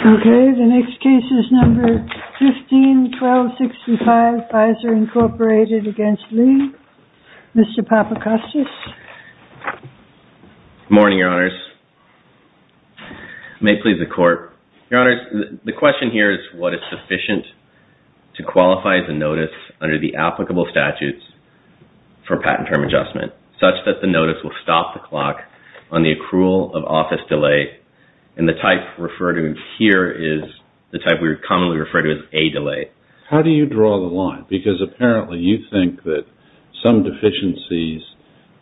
Okay, the next case is number 15-1265, Pfizer, Incorporated, against Lee. v. Lee Mr. Papakoskis. v. Papakoskis Morning, Your Honors. May it please the Court. Your Honors, the question here is what is sufficient to qualify the notice under the applicable statutes for patent term adjustment such that the notice will stop the clock on the accrual of office delay, and the type referred to here is the type we commonly refer to as a delay. How do you draw the line? Because apparently you think that some deficiencies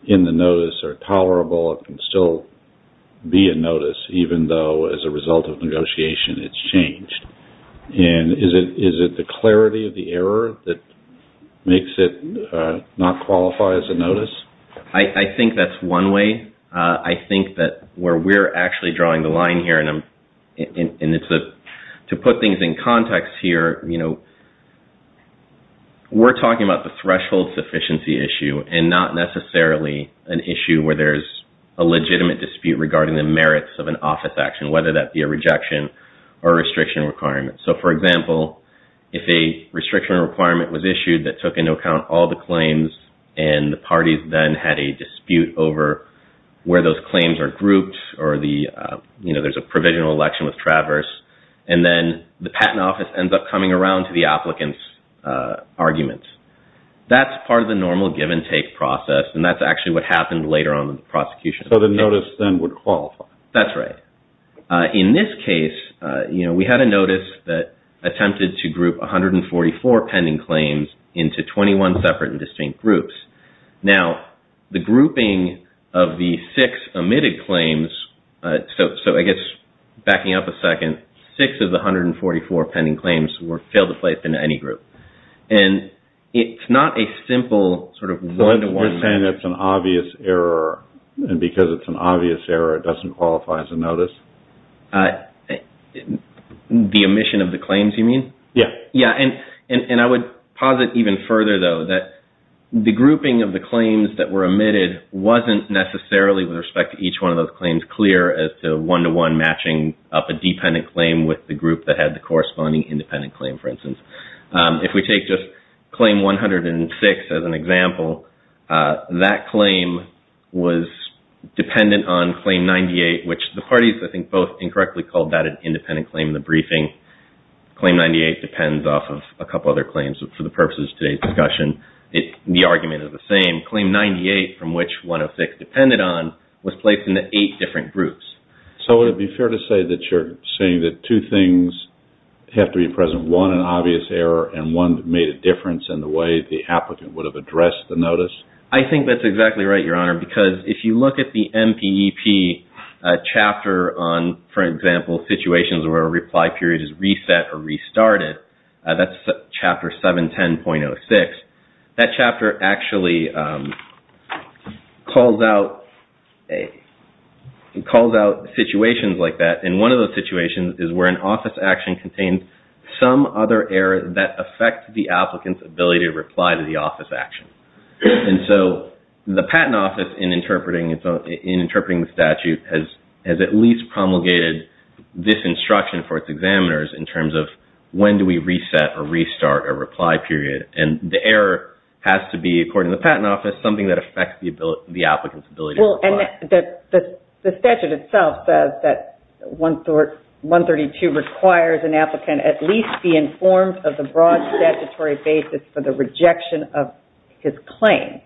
in the notice are tolerable, it can still be a notice even though as a result of negotiation it's changed. And is it the clarity of the error that makes it not qualify as a notice? v. Lee I think that's one way. I think that where we're actually drawing the line here, and to put things in context here, we're talking about the threshold sufficiency issue and not necessarily an issue where there's a legitimate dispute regarding the merits of an office action, whether that be a rejection or restriction requirement. So, for example, if a restriction requirement was issued that took into account all the or the, you know, there's a provisional election with Traverse, and then the patent office ends up coming around to the applicant's argument, that's part of the normal give-and-take process, and that's actually what happened later on in the prosecution. v. Lee So the notice then would qualify. v. Lee That's right. In this case, you know, we had a notice that attempted to group 144 pending claims into 21 separate and distinct groups. Now, the grouping of the six omitted claims, so I guess backing up a second, six of the 144 pending claims were failed to play up in any group, and it's not a simple sort of one-to-one. v. Lee So you're saying it's an obvious error, and because it's an obvious error, it doesn't qualify as a notice? v. Lee The omission of the claims, you mean? v. Lee Yeah. v. Lee Yeah, and I would posit even further, though, that the grouping of the claims that were omitted wasn't necessarily, with respect to each one of those claims, clear as to one-to-one matching up a dependent claim with the group that had the corresponding independent claim, for instance. If we take just claim 106 as an example, that claim was dependent on claim 98, which the parties, I think, both incorrectly called that an independent claim in the briefing. Claim 98 depends off of a couple other claims for the purposes of today's discussion. The argument is the same. Claim 98, from which 106 depended on, was placed into eight different groups. v. Lee So would it be fair to say that you're saying that two things have to be present, one, an obvious error, and one that made a difference in the way the applicant would have addressed the notice? v. Lee I think that's exactly right, Your Honor, because if you look at the MPEP chapter on, for example, situations where a reply period is reset or restarted, that's chapter 710.06, that chapter actually calls out situations like that. And one of those situations is where an office action contains some other error that affects the applicant's ability to reply to the office action. And so the patent office, in interpreting the statute, has at least promulgated this instruction for its examiners in terms of when do we reset or restart a reply period. And the error has to be, according to the patent office, something that affects the applicant's ability to reply. v. Lee Well, and the statute itself says that 132 requires an applicant at least be informed of the broad statutory basis for the rejection of his claim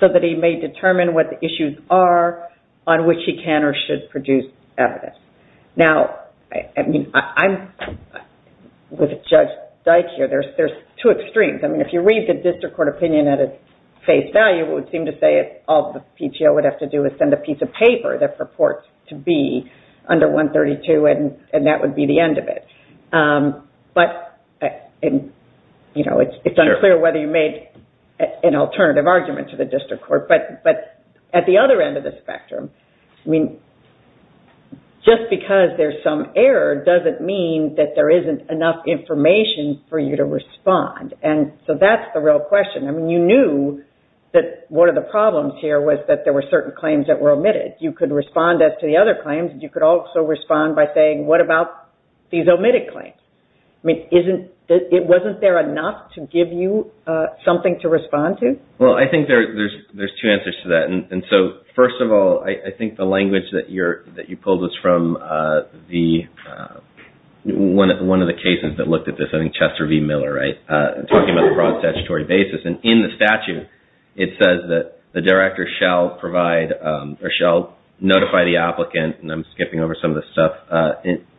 so that he may determine what the issues are on which he can or should produce evidence. Now, I mean, I'm with Judge Dyk here. There's two extremes. I mean, if you read the district court opinion at its face value, it would seem to say all the PTO would have to do is send a piece of paper that purports to be under 132, and that would be the end of it. But, you know, it's unclear whether you made an alternative argument to the district court. But at the other end of the spectrum, I mean, just because there's some error doesn't mean that there isn't enough information for you to respond. And so that's the real question. I mean, you knew that one of the problems here was that there were certain claims that were omitted. You could respond as to the other claims. You could also respond by saying, what about these omitted claims? I mean, wasn't there enough to give you something to respond to? Well, I think there's two answers to that. And so, first of all, I think the language that you pulled is from one of the cases that looked at this, I think Chester v. Miller, right, talking about the broad statutory basis. And in the statute, it says that the director shall notify the applicant, and I'm skipping over some of this stuff,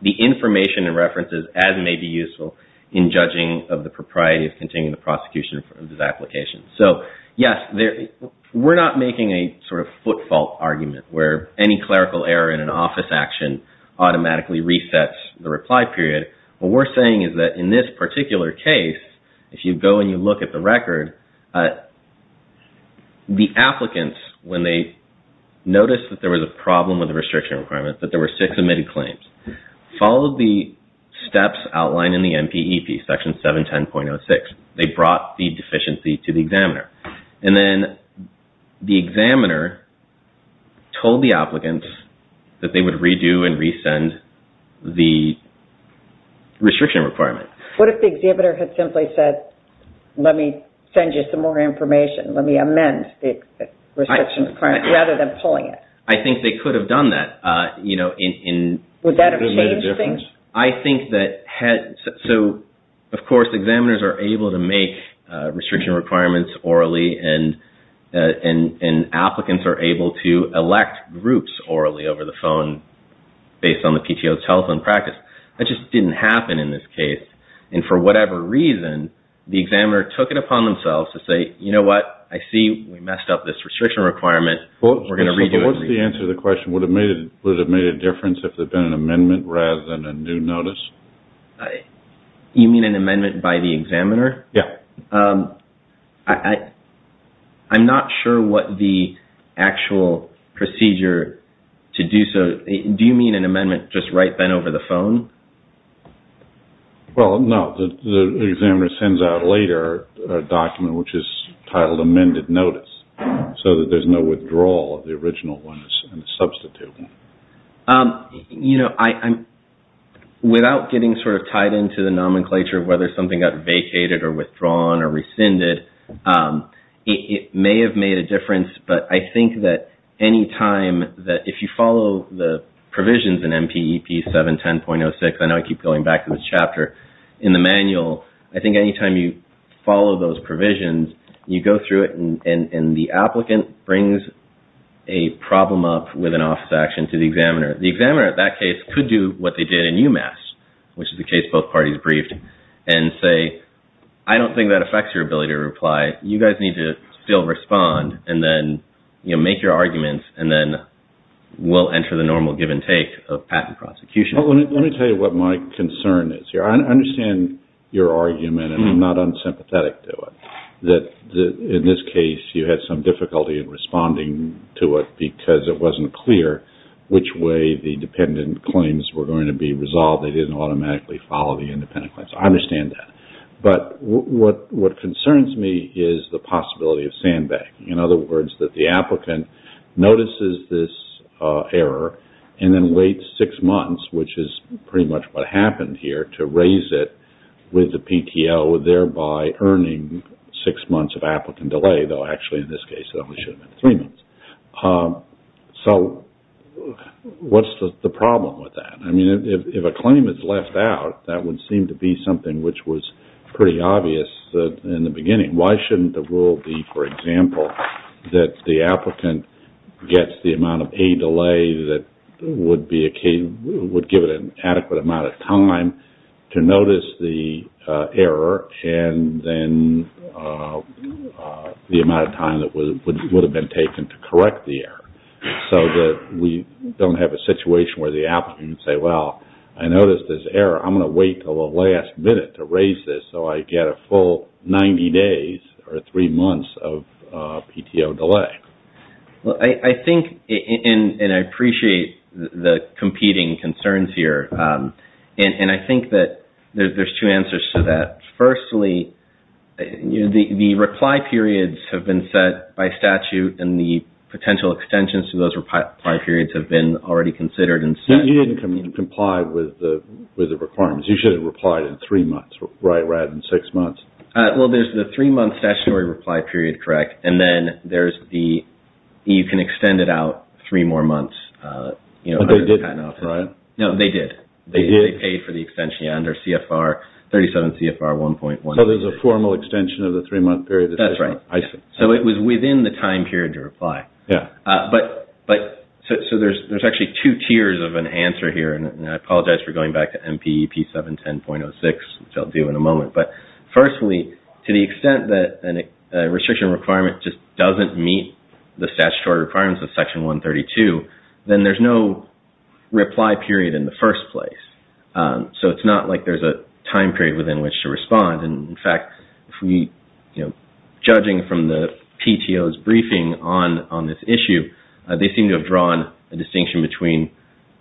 the information and references as may be useful in judging of the propriety of continuing the prosecution of this application. So, yes, we're not making a sort of footfault argument where any clerical error in an office action automatically resets the reply period. What we're saying is that in this particular case, if you go and you look at the record, the applicants, when they noticed that there was a problem with the restriction requirement, that there were six omitted claims, followed the steps outlined in the NPEP, Section 710.06. They brought the deficiency to the examiner. And then the examiner told the applicants that they would redo and resend the restriction requirement. What if the examiner had simply said, let me send you some more information, let me amend the restriction requirement, rather than pulling it? I think they could have done that, you know, in... Would that have changed things? I think that had... So, of course, examiners are able to make restriction requirements orally, and applicants are able to elect groups orally over the phone based on the PTO's telephone practice. That just didn't happen in this case. And for whatever reason, the examiner took it upon themselves to say, you know what, I see we messed up this restriction requirement, we're going to redo it. What's the answer to the question, would it have made a difference if there had been an amendment rather than a new notice? You mean an amendment by the examiner? Yeah. I'm not sure what the actual procedure to do so... Do you mean an amendment just right then over the phone? Well, no. The examiner sends out later a document which is titled amended notice, so that there's no withdrawal of the original one and a substitute one. You know, without getting sort of tied into the nomenclature of whether something got vacated or withdrawn or rescinded, it may have made a difference, but I think that any time that... Provisions in MPEP 710.06, I know I keep going back to this chapter, in the manual, I think any time you follow those provisions, you go through it and the applicant brings a problem up with an office action to the examiner. The examiner at that case could do what they did in UMass, which is the case both parties briefed, and say, I don't think that affects your ability to reply, you guys need to still respond and then make your arguments and then we'll enter the normal give and take of patent prosecution. Let me tell you what my concern is here. I understand your argument and I'm not unsympathetic to it. That in this case, you had some difficulty in responding to it because it wasn't clear which way the dependent claims were going to be resolved. They didn't automatically follow the independent claims. I understand that. But what concerns me is the possibility of sandbagging. In other words, that the applicant notices this error and then waits six months, which is pretty much what happened here, to raise it with the PTO, thereby earning six months of applicant delay, though actually in this case it only should have been three months. So what's the problem with that? I mean, if a claim is left out, that would seem to be something which was pretty obvious in the beginning. Why shouldn't the rule be, for example, that the applicant gets the amount of a delay that would give it an adequate amount of time to notice the error and then the amount of time that would have been taken to correct the error so that we don't have a situation where the applicant can say, well, I noticed this error. I'm going to wait until the last minute to raise this so I get a full 90 days or three months of PTO delay. Well, I think, and I appreciate the competing concerns here, and I think that there's two answers to that. Firstly, the reply periods have been set by statute and the potential extensions to those reply periods have been already considered. You didn't comply with the requirements. You should have replied in three months rather than six months. Well, there's the three-month stationary reply period, correct, and then there's the, you can extend it out three more months. But they didn't, right? No, they did. They did? They paid for the extension under CFR 37 CFR 1.1. So there's a formal extension of the three-month period? That's right. So it was within the time period to reply. Yeah. But, so there's actually two tiers of an answer here, and I apologize for going back to MPEP 710.06, which I'll do in a moment. But firstly, to the extent that a restriction requirement just doesn't meet the statutory requirements of Section 132, then there's no reply period in the first place. So it's not like there's a time period within which to respond. And in fact, judging from the PTO's briefing on this issue, they seem to have drawn a distinction between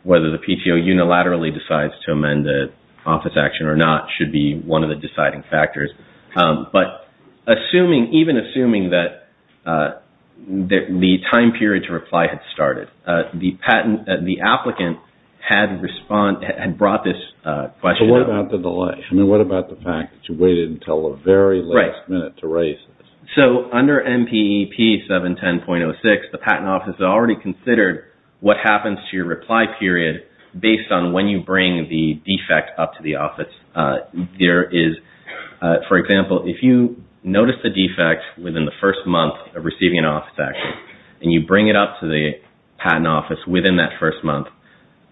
whether the PTO unilaterally decides to amend the office action or not should be one of the deciding factors. But even assuming that the time period to reply had started, the patent, the applicant had brought this question up. So what about the delay? I mean, what about the fact that you waited until the very last minute to raise this? So under MPEP 710.06, the Patent Office has already considered what happens to your reply period based on when you bring the defect up to the office. There is, for example, if you notice a defect within the first month of receiving an office action, and you bring it up to the Patent Office within that first month,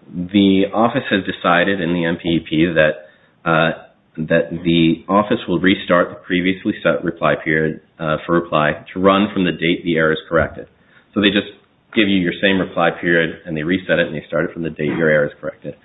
the office has decided in the MPEP that the office will restart the previously set reply period for reply to run from the date the error is corrected. So they just give you your same reply period and they reset it and they start it from the date your error is corrected.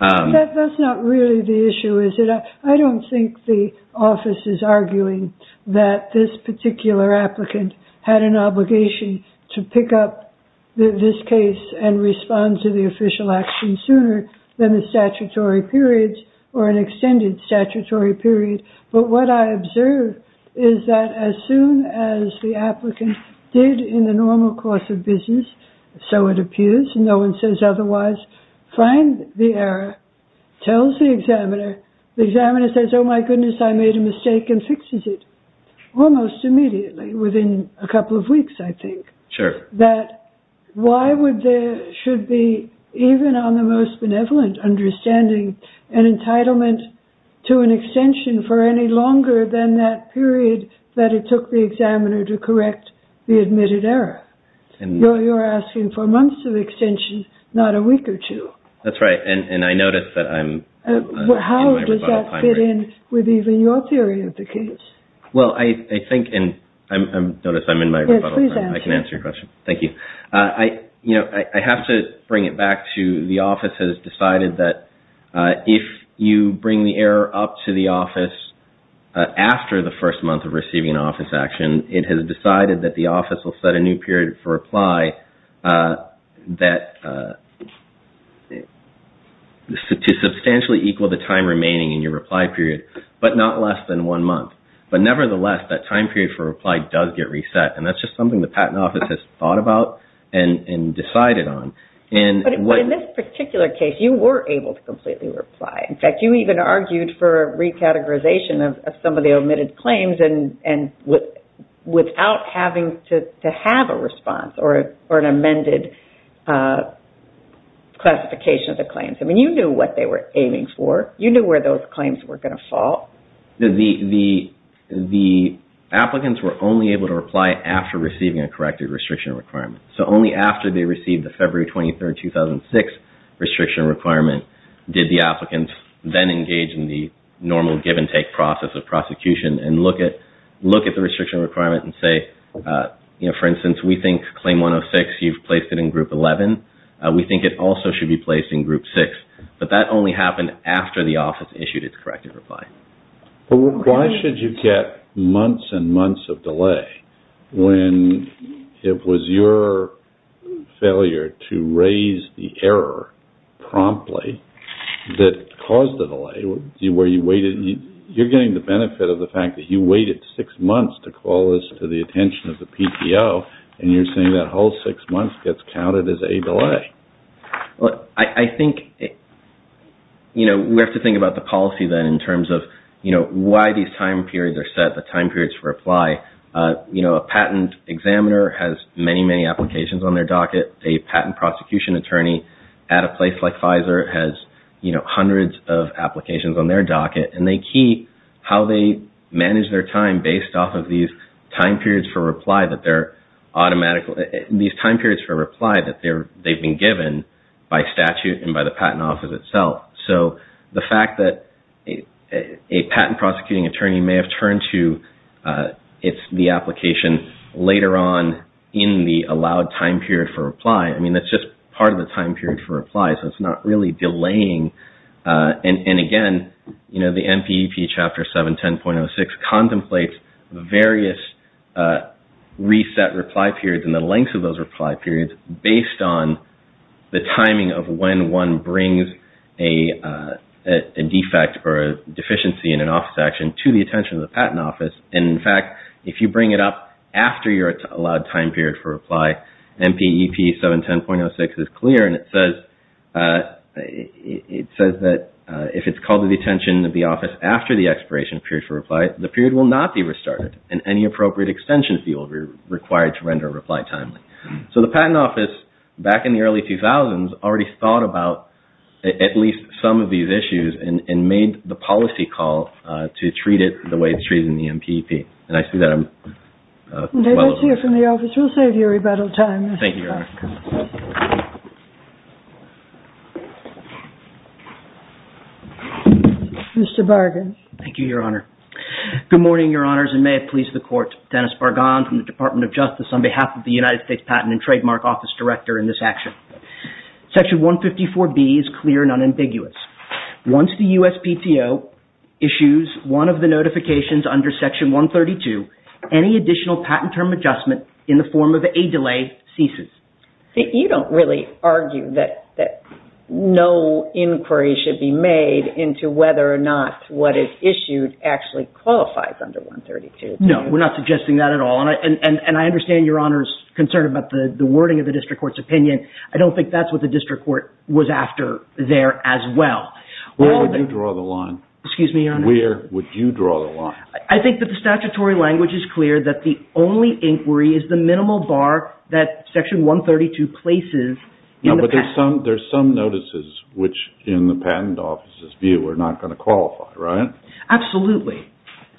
That's not really the issue, is it? I don't think the office is arguing that this particular applicant had an obligation to pick up this case and respond to the official action sooner than the statutory periods or an extended statutory period. But what I observe is that as soon as the applicant did in the normal course of business, so it appears, no one says otherwise, find the error, tells the examiner, the examiner says, oh my goodness, I made a mistake and fixes it. Almost immediately, within a couple of weeks, I think. That why would there should be, even on the most benevolent understanding, an entitlement to an extension for any longer than that period that it took the examiner to correct the admitted error? You're asking for months of extension, not a week or two. That's right, and I notice that I'm in my rebuttal time. How does that fit in with even your theory of the case? Well, I think, and notice I'm in my rebuttal time. I can answer your question. Thank you. I have to bring it back to the office has decided that if you bring the error up to the office after the first month of receiving office action, it has decided that the office will set a new period for reply to substantially equal the time remaining in your reply period, but not less than one month. But nevertheless, that time period for reply does get reset and that's just something the patent office has thought about and decided on. But in this particular case, you were able to completely reply. In fact, you even argued for recategorization of some of the omitted claims without having to have a response or an amended classification of the claims. I mean, you knew what they were aiming for. You knew where those claims were going to fall. The applicants were only able to reply after receiving a corrected restriction requirement. So only after they received the February 23, 2006 restriction requirement did the applicants then engage in the normal give and take process of prosecution and look at the restriction requirement and say, for instance, we think claim 106, you've placed it in group 11. We think it also should be placed in group 6. But that only happened after the office issued its corrected reply. Why should you get months and months of delay when it was your failure to raise the error promptly that caused the delay? You're getting the benefit of the fact that you waited six months to call this to the attention of the PTO and you're saying that whole six months gets counted as a delay. I think we have to think about the policy then in terms of why these time periods are set, the time periods for reply. A patent examiner has many, many applications on their docket. A patent prosecution attorney at a place like Pfizer has hundreds of applications on their docket. And they keep how they manage their time based off of these time periods for reply that they've been given by statute and by the patent office itself. So the fact that a patent prosecuting attorney may have turned to the application later on in the allowed time period for reply, I mean, that's just part of the time period for reply. So it's not really delaying. And again, the NPEP Chapter 710.06 contemplates various reset reply periods and the lengths of those reply periods based on the timing of when one brings a defect or a deficiency in an office action to the attention of the patent office. And in fact, if you bring it up after your allowed time period for reply, NPEP 710.06 is clear and it says that if it's called to the attention of the office after the expiration period for reply, the period will not be restarted and any appropriate extension fee will be required to render a reply timely. So the patent office, back in the early 2000s, already thought about at least some of these issues and made the policy call to treat it the way it's treated in the NPEP. And I see that I'm well over time. We'll save you rebuttal time. Thank you, Your Honor. Mr. Bargan. Thank you, Your Honor. Good morning, Your Honors and may it please the Court. Dennis Bargan from the Department of Justice on behalf of the United States Patent and Trademark Office Director in this action. Section 154B is clear and unambiguous. Once the USPTO issues one of the notifications under Section 132, any additional patent term adjustment in the form of a delay ceases. See, you don't really argue that no inquiry should be made into whether or not what is issued actually qualifies under 132, do you? No, we're not suggesting that at all. And I understand Your Honor's concern about the wording of the district court's opinion. I don't think that's what the district court was after there as well. Where would you draw the line? Excuse me, Your Honor. Where would you draw the line? I think that the statutory language is clear that the only inquiry is the minimal bar that Section 132 places in the patent. No, but there's some notices which in the patent office's view are not going to qualify, right? Absolutely.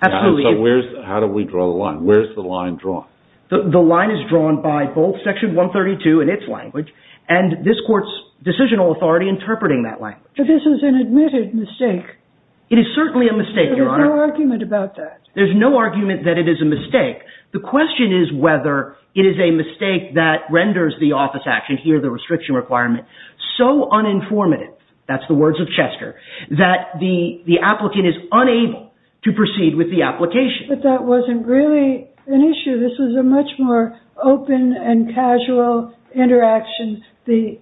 How do we draw the line? Where's the line drawn? The line is drawn by both Section 132 and its language and this court's decisional authority interpreting that language. But this is an admitted mistake. It is certainly a mistake, Your Honor. There's no argument about that. There's no argument that it is a mistake. The question is whether it is a mistake that renders the office action here, the restriction requirement, so uninformative, to proceed with the application. But that wasn't really an issue. This was a much more open and casual interaction. The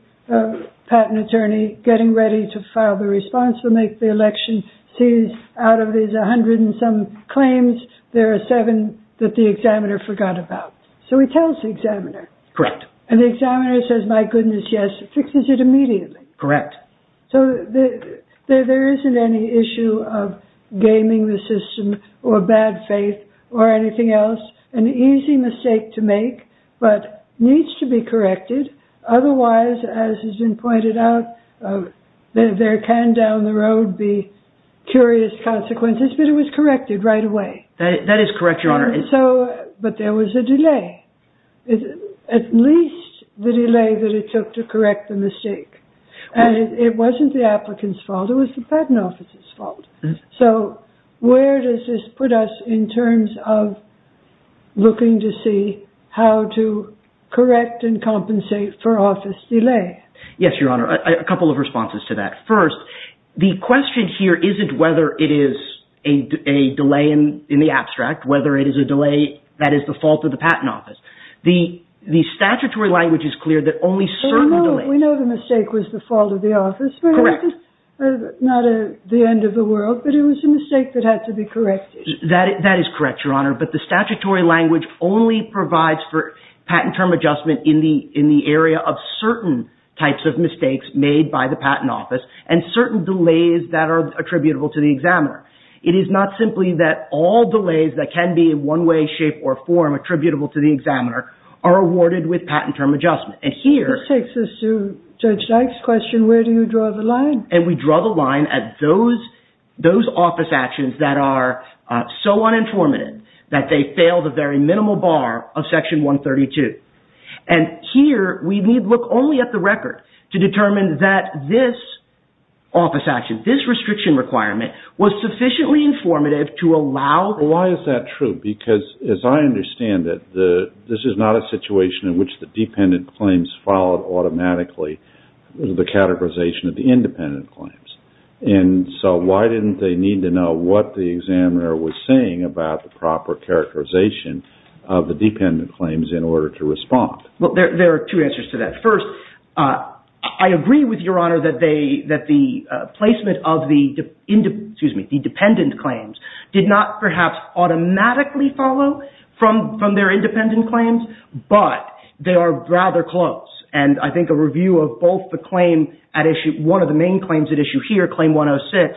patent attorney getting ready to file the response to make the election out of his 100 and some claims there are seven that the examiner forgot about. So he tells the examiner. Correct. And the examiner says, my goodness, yes, fixes it immediately. Correct. So there isn't any issue of gaming the system or bad faith or anything else. An easy mistake to make but needs to be corrected. Otherwise, as has been pointed out, there can down the road be curious consequences. But it was corrected right away. That is correct, Your Honor. But there was a delay. At least the delay that it took to correct the mistake. And it wasn't the applicant's fault. It was the patent office's fault. So where does this put us in terms of looking to see how to correct and compensate for office delay? Yes, Your Honor. A couple of responses to that. First, the question here isn't whether it is a delay in the abstract, whether it is a delay that is the fault of the patent office. The statutory language is clear that only certain delays... We know the mistake was the fault of the office. Correct. Not the end of the world, but it was a mistake that had to be corrected. That is correct, Your Honor. But the statutory language only provides for patent term adjustment in the area of certain types of mistakes made by the patent office and certain delays that are attributable to the examiner. It is not simply that all delays that can be in one way, shape, or form attributable to the examiner are awarded with patent term adjustment. And here... This takes us to Judge Dyke's question, where do you draw the line? And we draw the line at those office actions that are so uninformative that they fail the very minimal bar of Section 132. And here we need look only at the record to determine that this office action, this restriction requirement was sufficiently informative to allow... Why is that true? Because as I understand it, this is not a situation in which the dependent claims followed automatically the categorization of the independent claims. And so why didn't they need to know what the examiner was saying about the proper characterization of the dependent claims in order to respond? Well, there are two answers to that. First, I agree with Your Honor that the placement of the... Excuse me, the dependent claims did not perhaps automatically follow from their independent claims, but they are rather close. And I think a review of both the claim at issue... One of the main claims at issue here, Claim 106,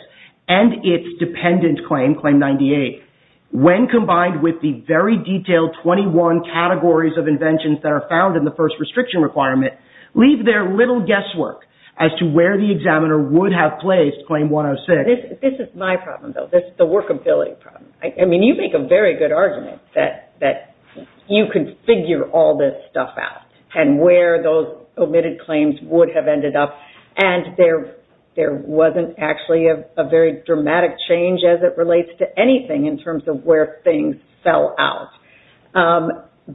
and its dependent claim, Claim 98, when combined with the very detailed 21 categories of inventions that are found in the first restriction requirement, leave their little guesswork as to where the examiner would have placed Claim 106. This is my problem, though. This is the workability problem. I mean, you make a very good argument that you can figure all this stuff out and where those omitted claims would have ended up and there wasn't actually a very dramatic change as it relates to anything in terms of where things fell out.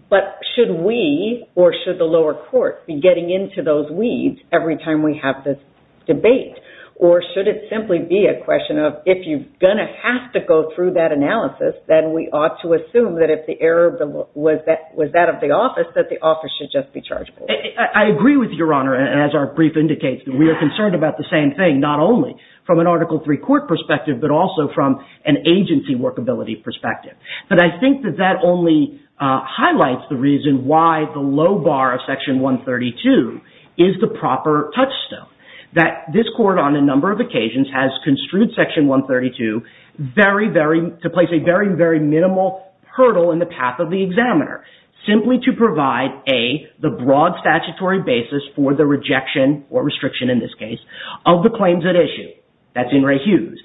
But should we, or should the lower court, be getting into those weeds every time we have this debate? Or should it simply be a question of if you're going to have to go through that analysis, then we ought to assume that if the error was that of the office, that the office should just be charged with it? I agree with Your Honor. As our brief indicates, we are concerned about the same thing, not only from an Article III court perspective, but also from an agency workability perspective. But I think that that only highlights the reason why the low bar of Section 132 is the proper touchstone. That this court, on a number of occasions, has construed Section 132 to place a very, very minimal hurdle in the path of the examiner. Simply to provide the broad statutory basis for the rejection or restriction, in this case, of the claims at issue. That's In re Hughes.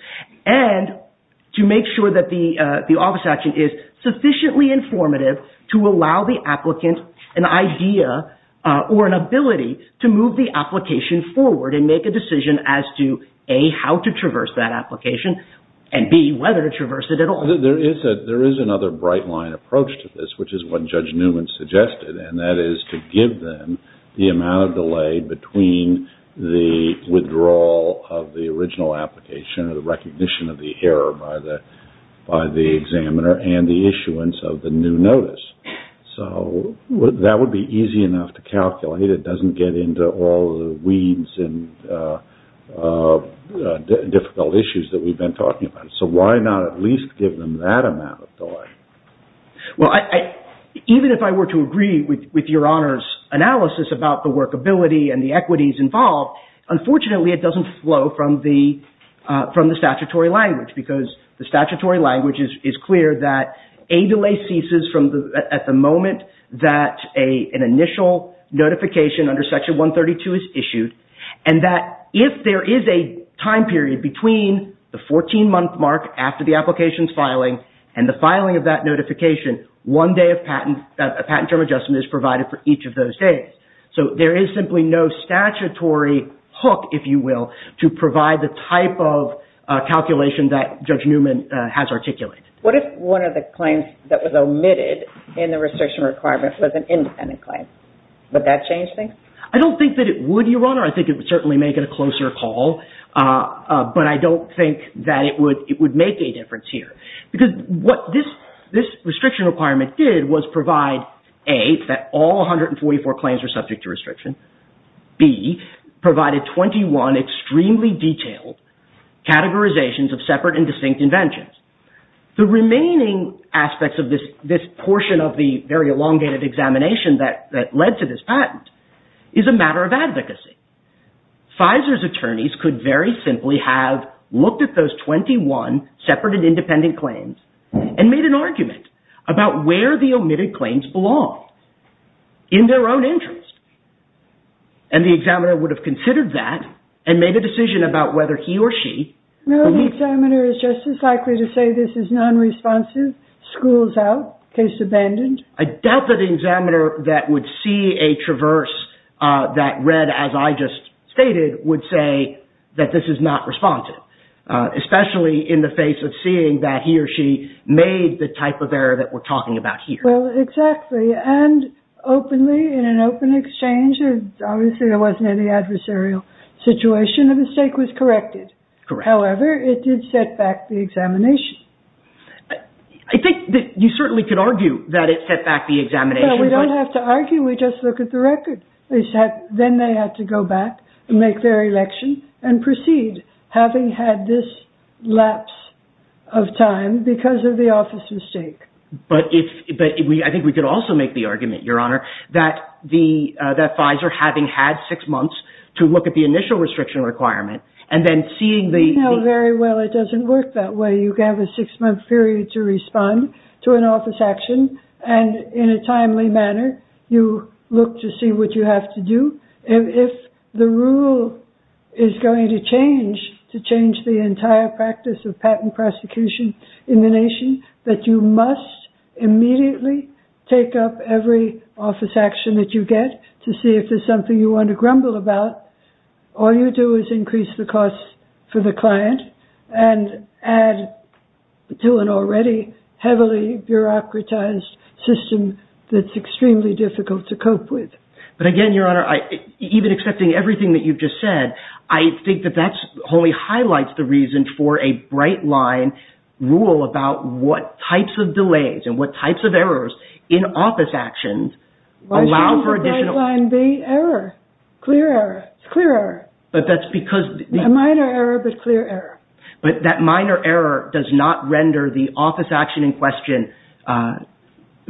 And to make sure that the office action is sufficiently informative to allow the applicant an idea or an ability to move the application forward and make a decision as to, A, how to traverse that application, and, B, whether to traverse it at all. There is another bright line approach to this, which is what Judge Newman suggested. And that is to give them the amount of delay between the withdrawal of the original application or the recognition of the error by the examiner and the issuance of the new notice. So, that would be easy enough to calculate. It doesn't get into all the weeds and difficult issues that we've been talking about. So, why not at least give them that amount of delay? Well, even if I were to agree with Your Honor's analysis about the workability and the equities involved, unfortunately, it doesn't flow from the statutory language because the statutory language is clear that a delay ceases at the moment that an initial notification under Section 132 is issued and that if there is a time period between the 14-month mark after the application's filing and the filing of that notification, one day of patent term adjustment is provided for each of those days. So, there is simply no statutory hook, if you will, to provide the type of calculation that Judge Newman has articulated. What if one of the claims that was omitted in the restriction requirement was an independent claim? Would that change things? I don't think that it would, Your Honor. I think it would certainly make it a closer call, but I don't think that it would make a difference here because what this restriction requirement did was provide A, that all 144 claims were subject to restriction. B, provided 21 extremely detailed categorizations of separate and distinct inventions. The remaining aspects of this portion of the very elongated examination that led to this patent is a matter of advocacy. Pfizer's attorneys could very simply have looked at those 21 separate and independent claims and made an argument about where the omitted claims belong in their own interest. And the examiner would have considered that and made a decision about whether he or she No, the examiner is just as likely to say this is non-responsive, schools out, case abandoned. I doubt that the examiner that would see a traverse that read as I just stated would say that this is not responsive. Especially in the face of seeing that he or she made the type of error that we're talking about here. Well, exactly. And openly there obviously wasn't any adversarial situation. The mistake was corrected. However, it did set back the examination. I think you certainly could argue that it set back the examination. But we don't have to argue. We just look at the record. They said then they had to go back and make their election and proceed having had this lapse of time because of the office mistake. But I think we could also make the argument, Your Honor, that Pfizer having had six months to look at the initial restriction requirement and then seeing the You know very well it doesn't work that way. You can have a six-month period to respond to an office action and in a timely manner you look to see what you have to do. If the rule is going to change to change the entire practice of patent prosecution in the nation that you must immediately take up every office action that you get to see if there's something you want to grumble about. All you do is increase the cost for the client and add to an already heavily bureaucratized system that's extremely difficult to cope with. But again, Your Honor, even accepting everything that you've just said, I think that that only highlights the reason for a bright line rule about what types of delays and what types of errors in office actions allow for additional Why shouldn't the bright line be error? Clear error. It's clear error. But that's because A minor error but clear error. But that minor error does not render the office action in question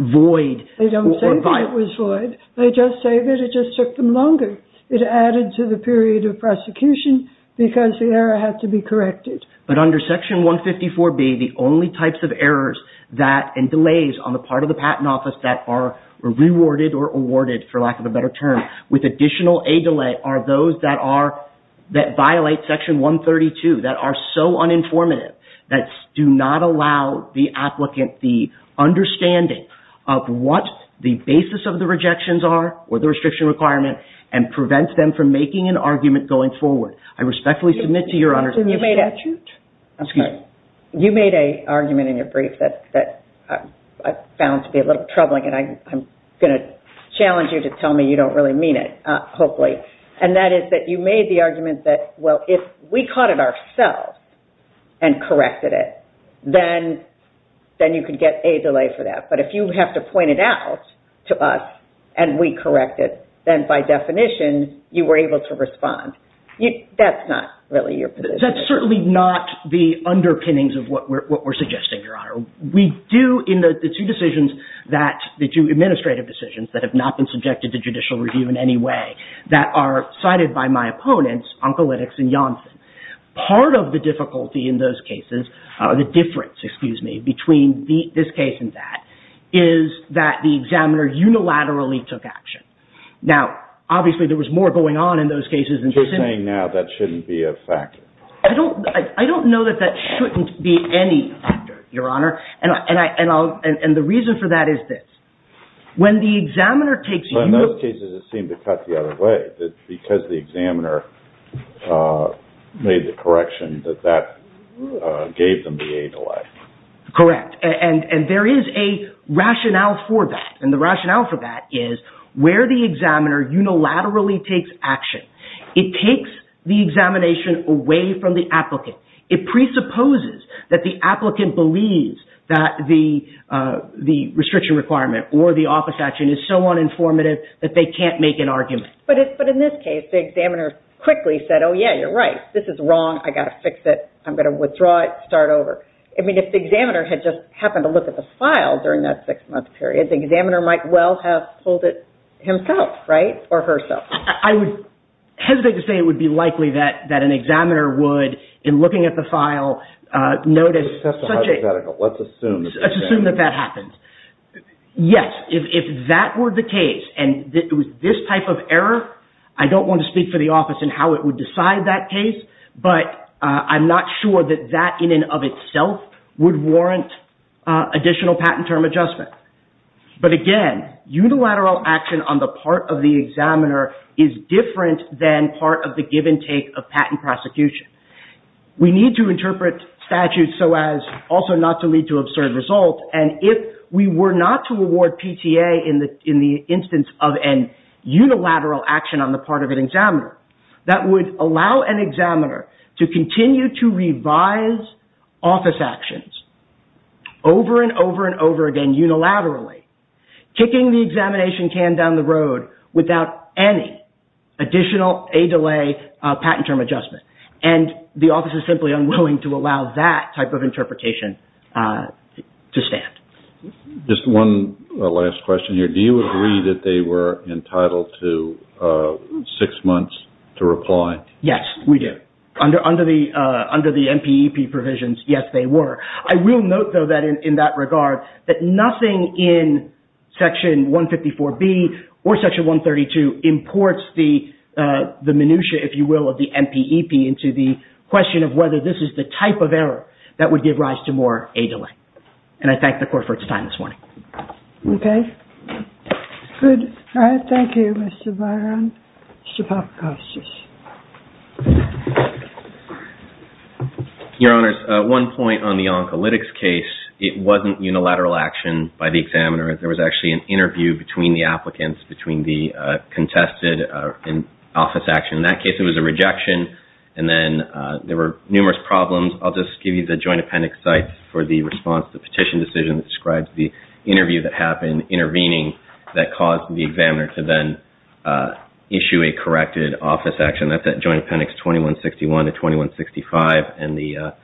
void They don't say that it was void. They just say that it just took them longer. It added to the period of prosecution because the error had to be corrected. But under Section 154B the only types of errors that and delays on the part of the Patent Office that are rewarded or awarded for lack of a better term with additional A delay are those that are that violate Section 132 that are so uninformative that do not allow the applicant the understanding of what the basis of the rejections are or the restriction requirement and prevents them from making an argument going forward. I respectfully submit to Your Honor Excuse me. You made a You made a argument in your brief that I found to be a little troubling and I'm going to challenge you to tell me you don't really mean it hopefully and that is that you made the argument that well if we caught it ourselves and corrected it then then you could get A delay for that but if you have to point it out to us and we correct it then by definition you were able to respond. That's not really your position. That's certainly not the underpinnings of what we're suggesting Your Honor. We do in the two decisions that the two administrative decisions that have not been subjected to judicial review in any way that are cited by my opponents Oncolitics and Yonsen. Part of the difficulty in those cases the difference excuse me between this case and that is that the examiner unilaterally took action. Now obviously there was more going on in those cases Just saying now that shouldn't be a factor. I don't I don't know that that shouldn't be any factor Your Honor and I and I'll and the reason for that is this when the examiner takes In those cases it seemed to cut the other way because the examiner made the correction that that gave them the A delay. Correct. And there is a rationale for that and the rationale for that is where the examiner unilaterally takes action it takes the examination away from the applicant. It presupposes that the applicant believes that the restriction requirement or the office action is so uninformative that they can't make an argument. But in this case the examiner quickly said oh yeah you're right this is wrong I gotta fix it I'm gonna withdraw it and start over. I mean if the examiner had just happened to look at the file during that six month period the examiner might well have pulled it himself right? Or herself. I would hesitate to say it would be likely that an examiner would in looking at the file notice Let's assume Let's assume that that happens. Yes. If that were the case and it was this type of error I don't want to speak for the office in how it would decide that case but I'm not sure that that in and of itself would warrant additional patent term adjustment. But again unilateral action on the part of the examiner is different than part of the give and take of patent prosecution. We need to interpret statutes so as also not to lead to absurd results and if we were not to award PTA in the instance of an unilateral action on the part of an examiner that would allow an examiner to continue to revise office actions over and over and over again unilaterally kicking the examination can down the road without any additional a delay patent term adjustment and the office is simply unwilling to allow that type of interpretation to stand. Just one last question here. Do you agree that they were entitled to six months to reply? Yes. We do. Under the MPEP provisions yes they were. I will note though that in that regard that nothing in section 154B or section 132 imports the minutia if you will of the MPEP into the question of whether this is the type of error that would give rise to more a delay and I thank the court for its time this morning. Okay. Good. All right. Thank you, Mr. Byron. Mr. Papakopoulos. Your Honor, at one point on the oncolitics case it wasn't unilateral action by the examiner. There was actually an interview between the applicants, between the contested and office action. In that case it was a rejection and then there were numerous problems. I will just mention the interview that happened intervening that caused the examiner to then issue a corrected office action. That's at Joint Appendix 2161-2165 and the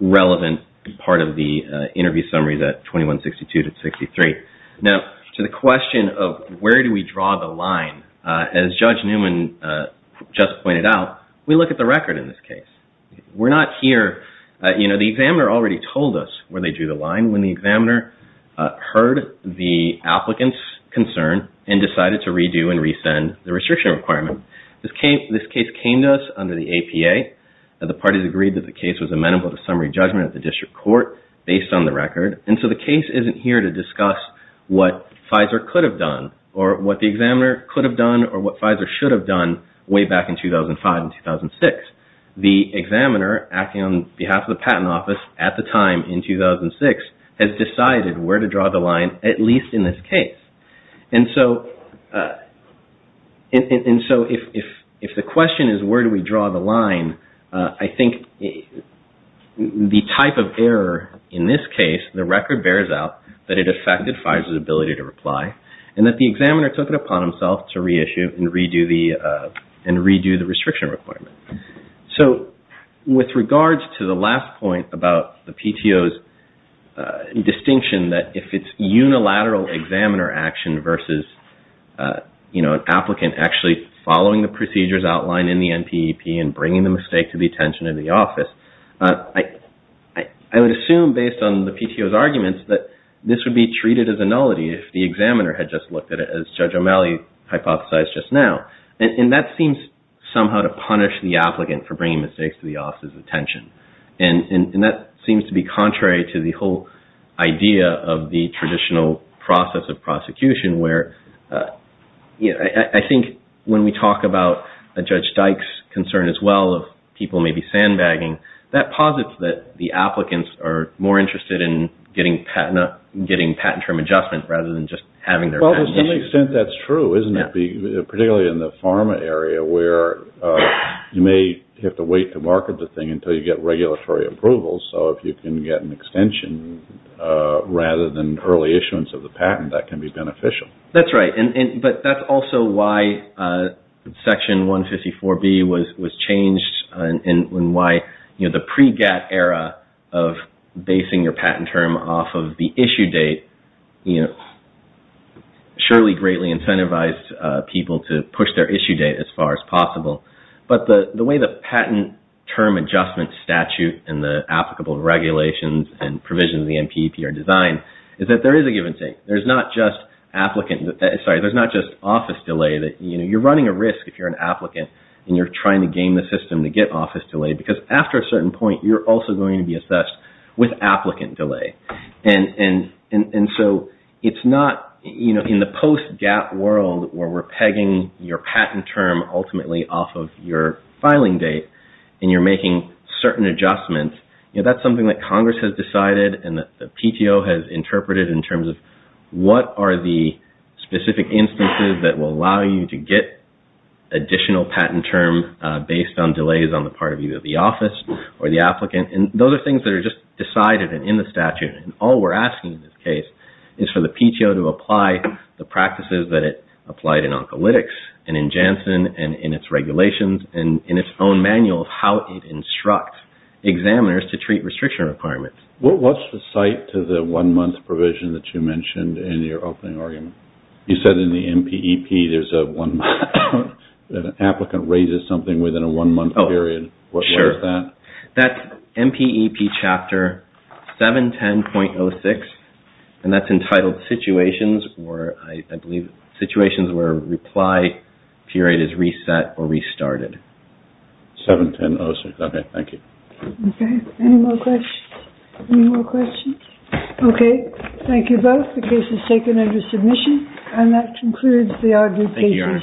relevant part of the interview summary that 2162-63. Now, to the question of where do we draw the line, as Judge Newman just pointed out, we look at the record in this case. We're not here, you know, the examiner already told us where they drew the line when the examiner heard the applicant's concern and decided to redo and resend the restriction requirement. This case came to us under the APA. The parties agreed that the case was amenable to summary judgment at the district court based on the record. And so the case isn't here to discuss what Pfizer could have done or what the examiner could have done or what Pfizer should have done way back in 2005 and 2006. The examiner acting on behalf of and Pfizer on the line, I think the type of error in this case, the record bears out that it affected Pfizer's ability to reply and that the examiner took it upon himself to reissue and redo the restriction requirement. So with regards to the last point about the PTO's distinction that if it's unilateral examiner action versus an applicant actually following the procedures outlined in the NPEP and bringing the mistake to the attention of the office, I would assume based on the PTO's arguments that this would be treated as a nullity if the examiner had just looked at it as Judge O'Malley hypothesized just now. And that seems somehow to punish the applicant for bringing mistakes to the office's attention. And that seems to be contrary to the whole idea of the traditional process of prosecution where I think when we talk about Judge Dyke's concern as well, that posits that the applicants are more interested in getting patent term adjustment rather than just having their patent issued. Well, to some extent that's true, isn't it, particularly in the pharma area where you may have to wait to market the thing until you get regulatory approvals so if you can get an extension rather than early issuance of the patent. The pre-GATT era of basing your patent term off of the issue date surely greatly incentivized people to push their issue date as far as possible. But the way the patent term adjustment statute and the applicable regulations and provisions of the NPEP are designed is that there is a given thing. There's not just office delay. You're running a risk if you're an applicant and you're trying to game the system to get office delay because after a certain point you're also going to be assessed with applicant delay. And so it's not in the post-GATT world where we're pegging your patent term ultimately off of your filing date and you're making certain adjustments. That's something that Congress has decided and the PTO has interpreted in order to allow you to get additional patent term based on delays on the part of either the office or the applicant. And those are things that are just decided and in the statute. And all we're asking in this case is for the PTO to apply the practices that it applied in Oncolytics and in Janssen and in its regulations and in its own manual of how it instructs examiners to treat restriction requirements. What's the site to the one-month provision that you mentioned in your opening argument? You said in the MPEP there's an applicant raises something within a one-month period. What is that? Sure. That's MPEP Chapter 710.06 and that's entitled Situations where I believe situations where reply period is reset or restarted. 710.06. Okay. Thank you. Okay. Any more questions? Okay. Thank you both. The case And that concludes the arguing pages. Thank you, Your Honor. Thank you.